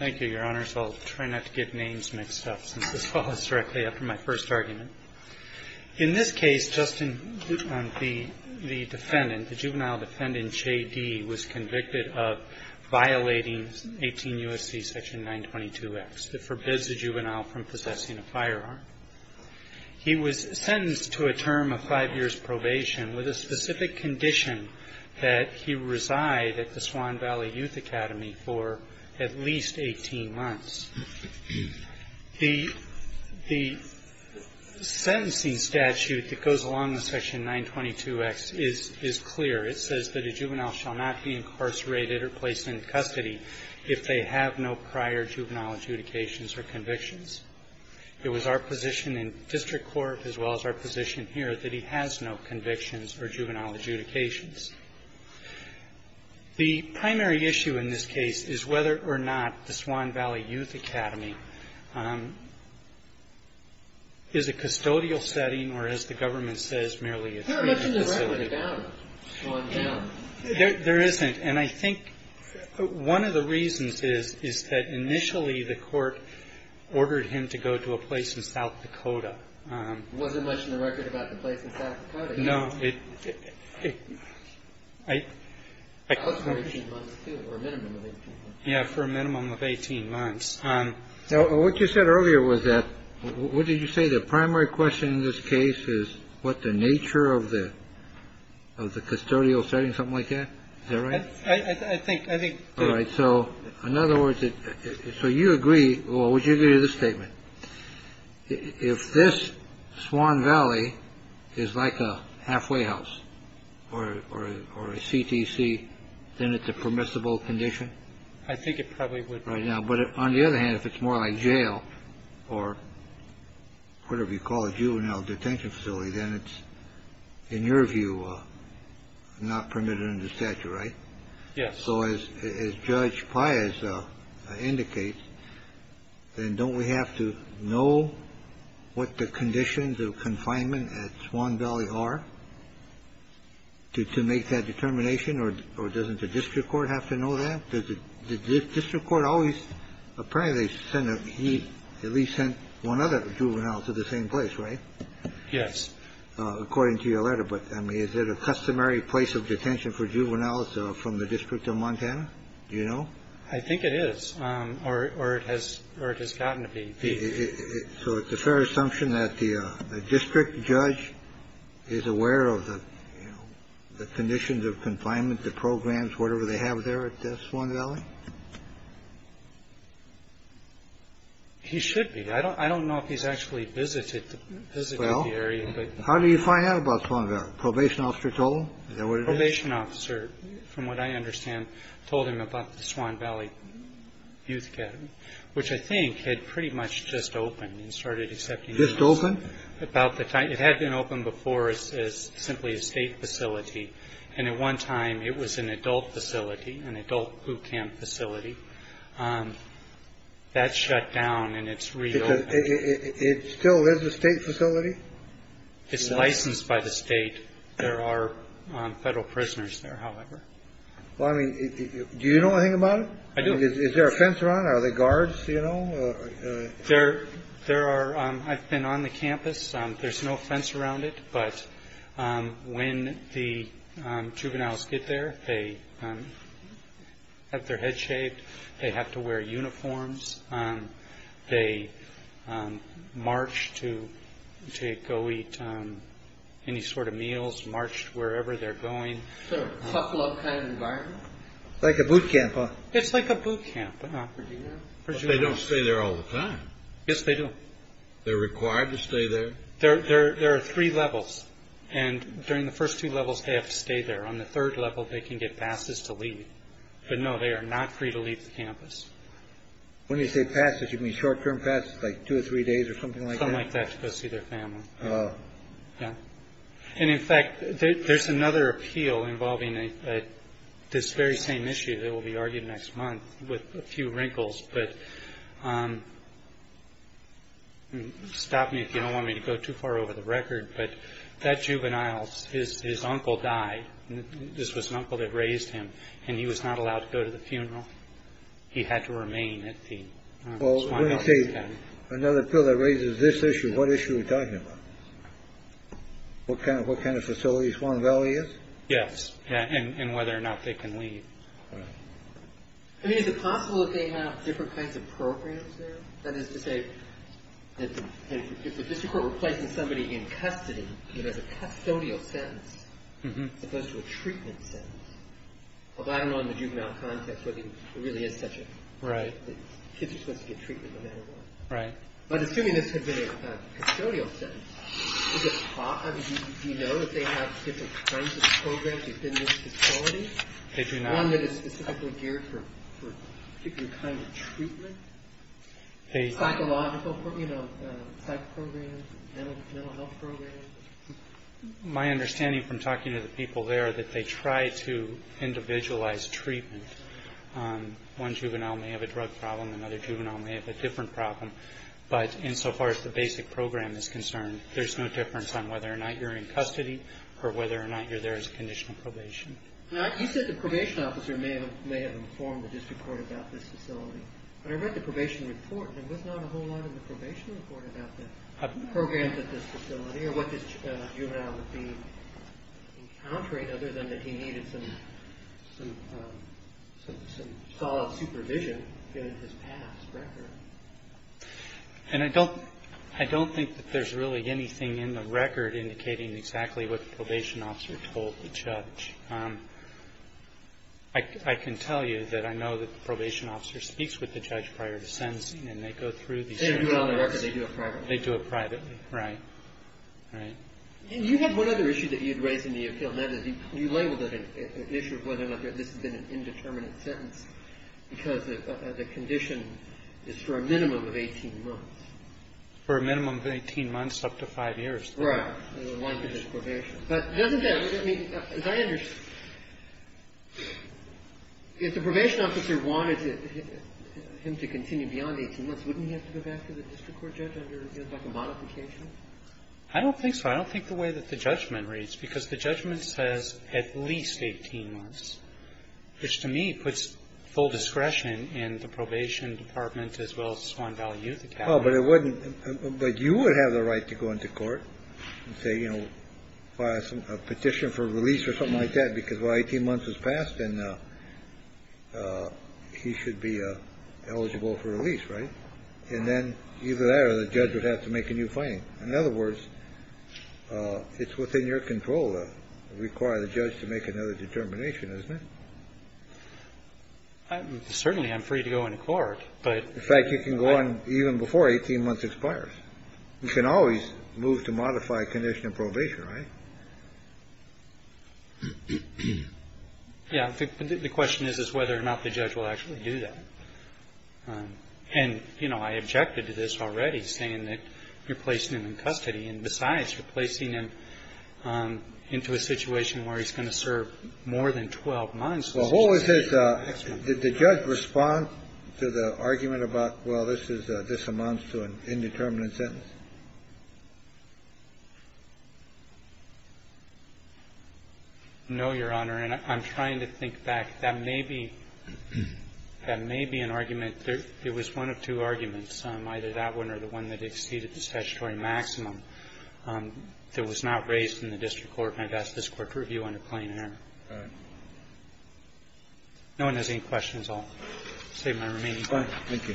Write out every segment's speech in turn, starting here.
D. was convicted of violating 18 U.S.C. section 922X that forbids a juvenile from possessing a firearm. He was sentenced to a term of five years' probation with a specific condition that he reside at the Swan Valley Youth Academy for at least five years. The sentencing statute that goes along with section 922X is clear. It says that a juvenile shall not be incarcerated or placed into custody if they have no prior juvenile adjudications or convictions. It was our position in district court as well as our position here that he has no convictions or juvenile adjudications. The primary issue in this case is whether or not the Swan Valley Youth Academy is a custodial setting or, as the government says, merely a treatment facility. There isn't. And I think one of the reasons is that initially the court ordered him to go to a place in South Dakota. There wasn't much in the record about the place in South Dakota. No. I. Yeah. For a minimum of 18 months. So what you said earlier was that what did you say? The primary question in this case is what the nature of the of the custodial setting. Something like that. All right. I think I think. All right. So in other words, so you agree or would you agree to the statement if this Swan Valley is like a halfway house or a CTC, then it's a permissible condition. I think it probably would right now. But on the other hand, if it's more like jail or whatever you call a juvenile detention facility, then it's in your view not permitted in the statute. Right. Yes. So as Judge Pius indicates, then don't we have to know what the conditions of confinement at Swan Valley are to make that determination? Or or doesn't the district court have to know that the district court always apparently said that he at least sent one other juvenile to the same place. Right. Yes. According to your letter. But I mean, is it a customary place of detention for juveniles from the district of Montana? You know, I think it is. Or or it has or it has gotten to be. So it's a fair assumption that the district judge is aware of the conditions of confinement, the programs, whatever they have there at Swan Valley. He should be. I don't I don't know if he's actually visited the area. But how do you find out about Swan Valley? Probation officer told probation officer, from what I understand, told him about the Swan Valley Youth Academy, which I think had pretty much just opened and started accepting this open about the time it had been open before as simply a state facility. And at one time it was an adult facility, an adult boot camp facility that shut down. And it's real. It still is a state facility. It's licensed by the state. There are federal prisoners there, however. Well, I mean, do you know anything about it? I do. Is there a fence around the guards? You know, there there are. I've been on the campus. There's no fence around it. But when the juveniles get there, they have their head shaved. They have to wear uniforms. They march to to go eat any sort of meals, marched wherever they're going. So a couple of kind of environment like a boot camp. It's like a boot camp. They don't stay there all the time. Yes, they do. They're required to stay there. There are three levels. And during the first two levels, they have to stay there. On the third level, they can get passes to leave. But no, they are not free to leave the campus. When you say passes, you mean short term passes like two or three days or something like that to go see their family. Yeah. And in fact, there's another appeal involving this very same issue that will be argued next month with a few wrinkles. But stop me if you don't want me to go too far over the record. But that juveniles is his uncle died. This was an uncle that raised him and he was not allowed to go to the funeral. He had to remain at the. Well, OK. Another bill that raises this issue. What issue are you talking about? What kind of what kind of facilities one value? Yes. And whether or not they can leave. I mean, is it possible that they have different kinds of programs that is to say that this is replacing somebody in custody. You know, the custodial sentence goes to a treatment sentence. Well, I don't know in the juvenile context whether it really is such a right. Kids are supposed to get treatment. Right. But assuming this had been a custodial sentence, you know, if they have different kinds of programs, you've been to one that is specifically geared for your kind of treatment. They psychological, you know, psych programs and mental health programs. My understanding from talking to the people there that they try to individualize treatment. One juvenile may have a drug problem, another juvenile may have a different problem. But insofar as the basic program is concerned, there's no difference on whether or not you're in custody or whether or not you're there as a conditional probation. Now, you said the probation officer may have may have informed the district court about this facility. But I read the probation report. There was not a whole lot in the probation report about the programs at this facility or what this juvenile would be encountering, other than that he needed some some some solid supervision given his past record. And I don't I don't think that there's really anything in the record indicating exactly what the probation officer told the judge. I can tell you that I know that the probation officer speaks with the judge prior to sentencing and they go through the record. They do it privately. They do it privately. Right. Right. And you have one other issue that you'd raised in the appeal. That is, you labeled it an issue of whether or not this has been an indeterminate sentence because the condition is for a minimum of 18 months. For a minimum of 18 months, up to five years. Right. But doesn't that mean, as I understand, if the probation officer wanted him to continue beyond 18 months, wouldn't he have to go back to the district court judge under, you know, like a modification? I don't think so. I don't think the way that the judgment reads, because the judgment says at least 18 months, which to me puts full discretion in the probation department as well as Swan Valley Youth Academy. Oh, but it wouldn't. But you would have the right to go into court and say, you know, file a petition for release or something like that, because 18 months has passed. And he should be eligible for release. Right. And then either that or the judge would have to make a new finding. In other words, it's within your control to require the judge to make another determination, isn't it? Certainly. I'm free to go into court. But in fact, you can go on even before 18 months expires. You can always move to modify a condition of probation, right? Yeah. The question is, is whether or not the judge will actually do that. And, you know, I objected to this already saying that you're placing him in custody and besides replacing him into a situation where he's going to serve more than 12 months. Well, who is this? Did the judge respond to the argument about, well, this is this amounts to an indeterminate sentence? No, Your Honor. And I'm trying to think back. That may be that may be an argument. It was one of two arguments, either that one or the one that exceeded the statutory maximum that was not raised in the district court. And I've asked this Court to review under plain error. All right. If no one has any questions, I'll save my remaining time. Thank you.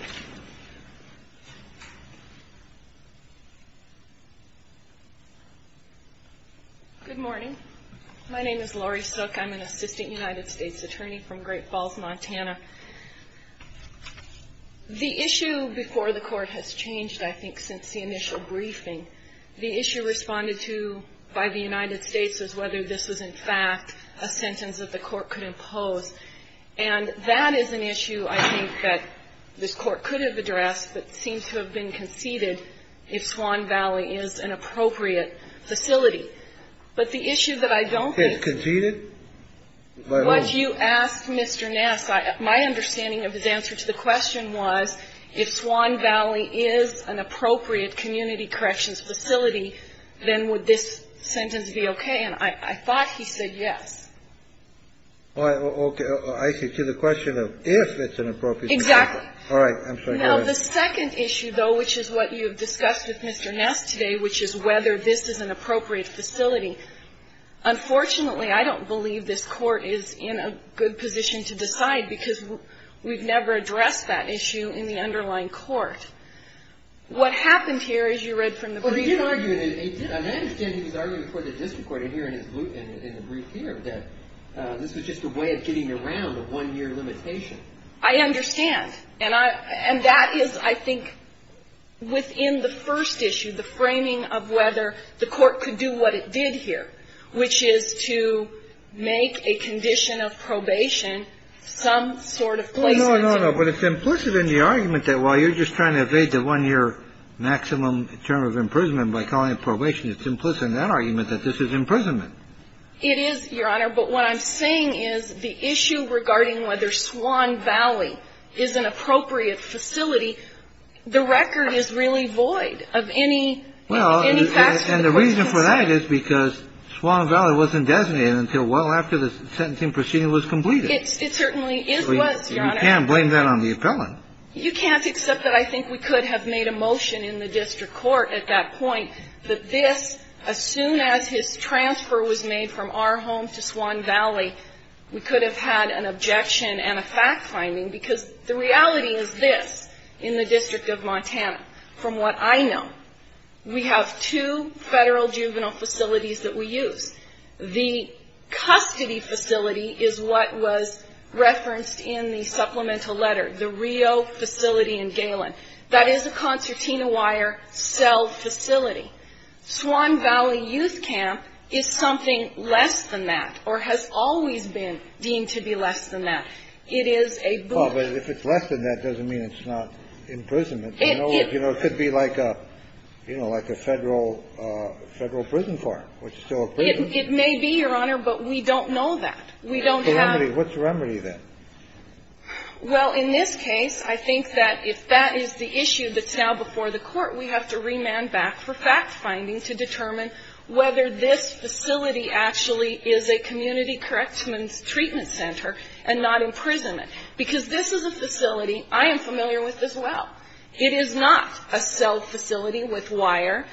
Good morning. My name is Lori Sook. I'm an assistant United States attorney from Great Falls, Montana. The issue before the Court has changed, I think, since the initial briefing. The issue responded to by the United States is whether this was, in fact, a sentence that the Court could impose. And that is an issue, I think, that this Court could have addressed, but seems to have been conceded if Swan Valley is an appropriate facility. But the issue that I don't think is conceded was you asked Mr. Nass. My understanding of his answer to the question was if Swan Valley is an appropriate community corrections facility, then would this sentence be okay? And I thought he said yes. Okay. I see. To the question of if it's an appropriate facility. Exactly. All right. I'm sorry. Go ahead. Now, the second issue, though, which is what you have discussed with Mr. Nass today, which is whether this is an appropriate facility, unfortunately, I don't believe this Court is in a good position to decide because we've never addressed that issue in the underlying court. What happened here is you read from the brief. Well, he did argue that it did. I understand he was arguing before the district court in here in his brief here that this was just a way of getting around a one-year limitation. I understand. And I – and that is, I think, within the first issue, the framing of whether the Court could do what it did here, which is to make a condition of probation some sort of placement. No, no, no. But it's implicit in the argument that while you're just trying to evade the one-year maximum term of imprisonment by calling it probation, it's implicit in that argument that this is imprisonment. It is, Your Honor. But what I'm saying is the issue regarding whether Swan Valley is an appropriate facility, the record is really void of any – any facts of the case. And the reason for that is because Swan Valley wasn't designated until well after the sentencing proceeding was completed. It certainly is, Your Honor. You can't blame that on the appellant. You can't except that I think we could have made a motion in the district court at that point that this, as soon as his transfer was made from our home to Swan Valley, we could have had an objection and a fact-finding because the reality is this in the District of Montana, from what I know. We have two Federal juvenile facilities that we use. The custody facility is what was referenced in the supplemental letter, the Rio facility in Galen. That is a concertina wire cell facility. Swan Valley Youth Camp is something less than that or has always been deemed to be less than that. It is a boot. Kennedy, I'm sorry to interrupt you, but if it's less than that, doesn't mean it's not imprisonment, you know? You know, it could be like a, you know, like a Federal prison farm, which is still a prison. It may be, Your Honor, but we don't know that. We don't have any. What's the remedy then? Well, in this case, I think that if that is the issue that's now before the Court, we have to remand back for fact-finding to determine whether this facility actually is a community corrections treatment center and not imprisonment. Because this is a facility I am familiar with as well. It is not a cell facility with wire,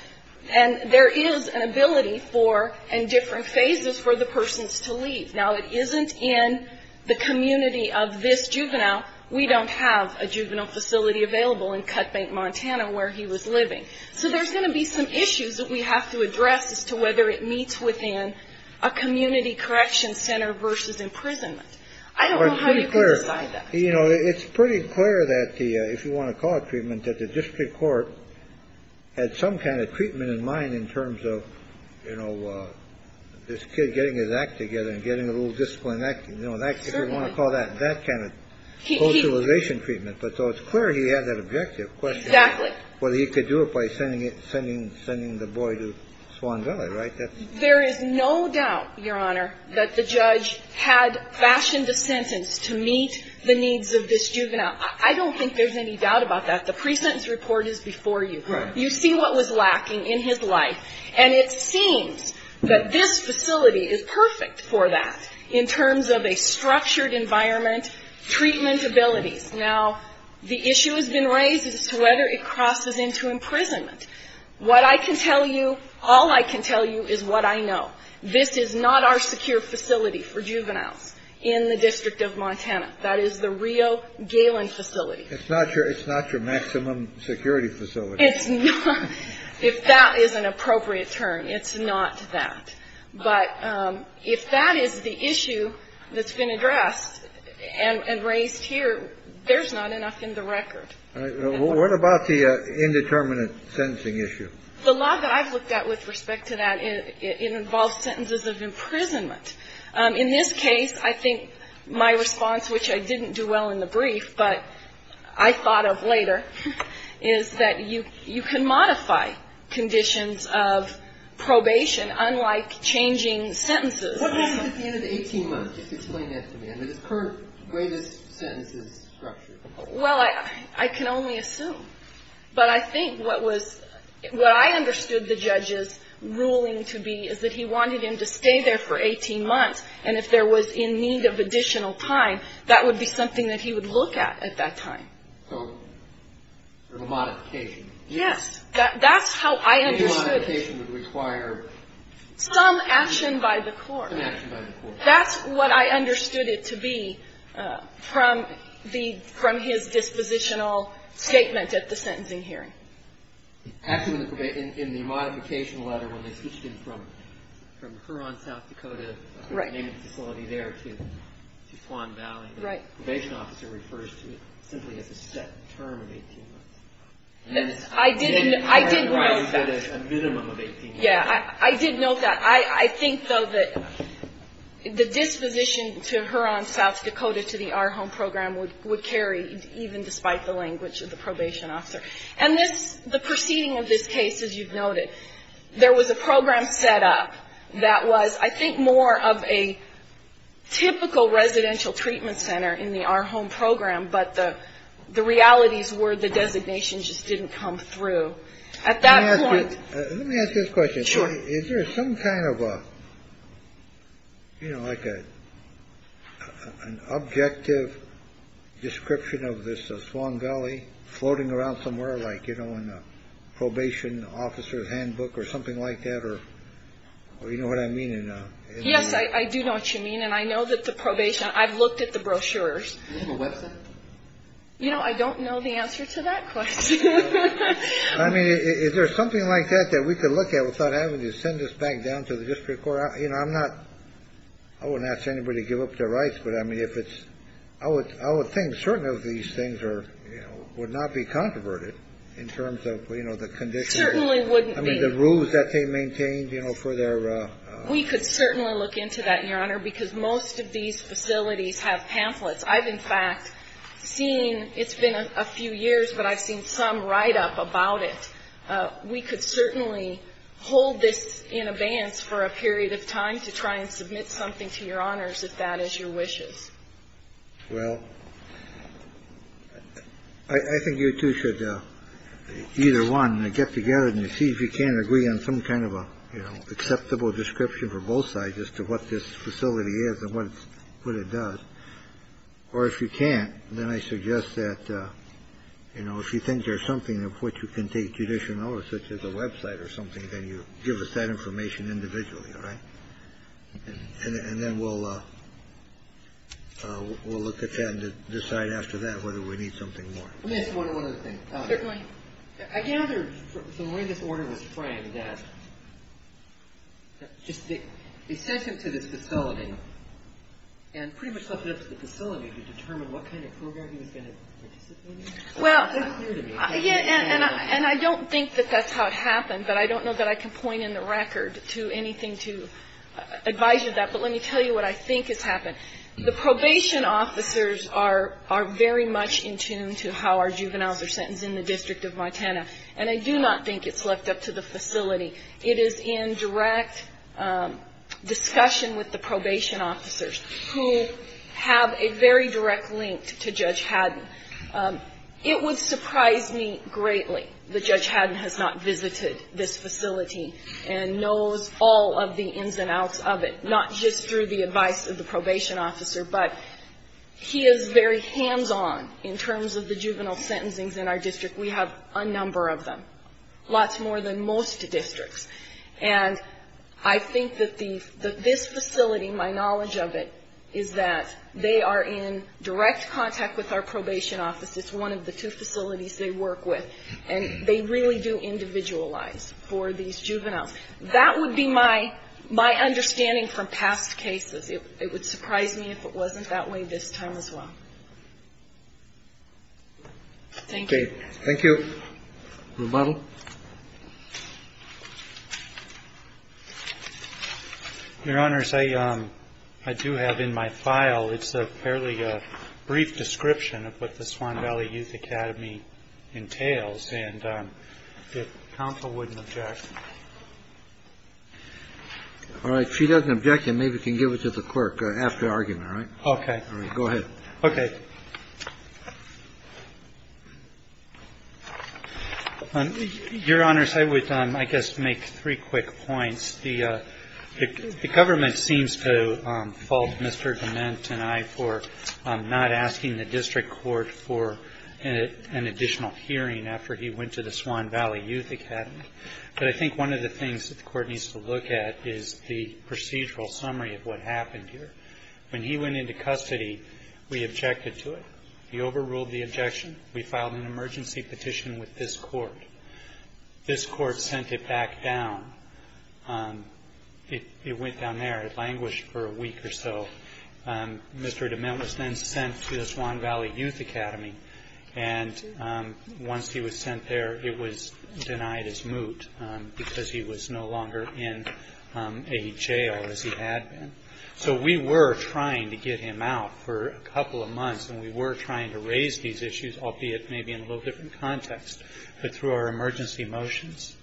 and there is an ability for, in different phases, for the persons to leave. Now, it isn't in the community of this juvenile. We don't have a juvenile facility available in Cutbank, Montana, where he was living. So there's going to be some issues that we have to address as to whether it meets within a community corrections center versus imprisonment. I don't know how you can decide that. You know, it's pretty clear that the, if you want to call it treatment, that the district court had some kind of treatment in mind in terms of, you know, this kid getting his act together and getting a little discipline, you know, if you want to call that that kind of socialization treatment. But so it's clear he had that objective question. Exactly. Whether he could do it by sending it, sending the boy to Swan Valley, right? There is no doubt, Your Honor, that the judge had fashioned a sentence to meet the needs of this juvenile. I don't think there's any doubt about that. The pre-sentence report is before you. Right. You see what was lacking in his life, and it seems that this facility is perfect for that in terms of a structured environment, treatment abilities. Now, the issue has been raised as to whether it crosses into imprisonment. What I can tell you, all I can tell you is what I know. This is not our secure facility for juveniles in the District of Montana. That is the Rio Galen facility. It's not your, it's not your maximum security facility. It's not, if that is an appropriate term, it's not that. But if that is the issue that's been addressed and raised here, there's not enough in the record. What about the indeterminate sentencing issue? The law that I've looked at with respect to that, it involves sentences of imprisonment. In this case, I think my response, which I didn't do well in the brief, but I thought of later, is that you can modify conditions of probation. Unlike changing sentences. What happens at the end of 18 months? Just explain that to me. I mean, it's current greatest sentences structure. Well, I can only assume. But I think what was, what I understood the judge's ruling to be is that he wanted him to stay there for 18 months. And if there was in need of additional time, that would be something that he would look at at that time. So, sort of a modification. Yes, that's how I understood it. The probation would require some action by the court. Some action by the court. That's what I understood it to be from the, from his dispositional statement at the sentencing hearing. Actually, in the modification letter, when they switched him from Huron, South Dakota, the main facility there to Swan Valley, the probation officer refers to it simply as a set term of 18 months. A minimum of 18 months. Yeah, I did note that. I think, though, that the disposition to Huron, South Dakota, to the Our Home program would carry, even despite the language of the probation officer. And this, the proceeding of this case, as you've noted, there was a program set up that was, I think, more of a typical residential treatment center in the Our Home program. But the realities were the designation just didn't come through. At that point, let me ask you this question. Sure. Is there some kind of a, you know, like an objective description of this Swan Valley floating around somewhere like, you know, in a probation officer's handbook or something like that? Or you know what I mean? Yes, I do know what you mean. And I know that the probation, I've looked at the brochures. You know, I don't know the answer to that question. I mean, is there something like that that we could look at without having to send us back down to the district court? You know, I'm not I wouldn't ask anybody to give up their rights. But I mean, if it's I would I would think certain of these things are would not be controverted in terms of, you know, the condition. Certainly wouldn't be. I mean, the rules that they maintain, you know, for their. We could certainly look into that, Your Honor, because most of these facilities have pamphlets. I've, in fact, seen it's been a few years, but I've seen some write up about it. We could certainly hold this in abeyance for a period of time to try and submit something to your honors, if that is your wishes. Well, I think you two should either one get together and see if you can agree on some kind of acceptable description for both sides as to what this facility is and what it does. Or if you can't, then I suggest that, you know, if you think there's something of which you can take judicial notice, such as a Web site or something, then you give us that information individually. All right. And then we'll we'll look at that and decide after that whether we need something more. Miss, one other thing. Certainly. I gathered from where this order was framed that just the accession to this facility and pretty much left it up to the facility to determine what kind of program he was going to participate in. Well, and I don't think that that's how it happened, but I don't know that I can point in the record to anything to advise you of that. But let me tell you what I think has happened. The probation officers are very much in tune to how our juveniles are sentenced in the District of Montana, and I do not think it's left up to the facility. It is in direct discussion with the probation officers who have a very direct link to Judge Haddon. It would surprise me greatly that Judge Haddon has not visited this facility and knows all of the ins and outs of it, not just through the advice of the probation officer, but he is very hands-on in terms of the juvenile sentencings in our district. We have a number of them, lots more than most districts. And I think that this facility, my knowledge of it, is that they are in direct contact with our probation office. It's one of the two facilities they work with, and they really do individualize for these juveniles. That would be my understanding from past cases. It would surprise me if it wasn't that way this time as well. Thank you. Thank you. Remodel. Your Honors, I do have in my file, it's apparently a brief description of what the Swan Valley Youth Academy entails. And if counsel wouldn't object. All right. If she doesn't object, then maybe you can give it to the clerk after argument, all right? Okay. All right. Go ahead. Okay. Your Honors, I would, I guess, make three quick points. The government seems to fault Mr. Dement and I for not asking the district court for an additional hearing after he went to the Swan Valley Youth Academy. But I think one of the things that the court needs to look at is the procedural summary of what happened here. When he went into custody, we objected to it. He overruled the objection. We filed an emergency petition with this court. This court sent it back down. It went down there. It languished for a week or so. Mr. Dement was then sent to the Swan Valley Youth Academy. And once he was sent there, it was denied his moot because he was no longer in a jail as he had been. So we were trying to get him out for a couple of months. And we were trying to raise these issues, albeit maybe in a little different context. But through our emergency motions.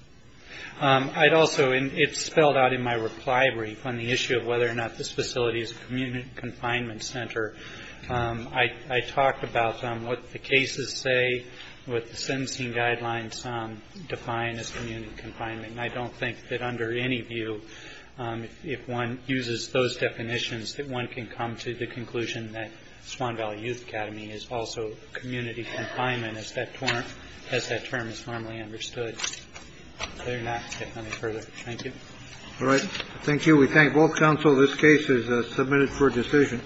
I'd also, and it's spelled out in my reply brief on the issue of whether or not this facility is a community confinement center. I talked about what the cases say, what the sentencing guidelines define as community confinement. I don't think that under any view, if one uses those definitions, that one can come to the conclusion that Swan Valley Youth Academy is also community confinement. And as that term is formally understood, they're not getting any further. Thank you. All right. Thank you. We thank both counsel. This case is submitted for decision.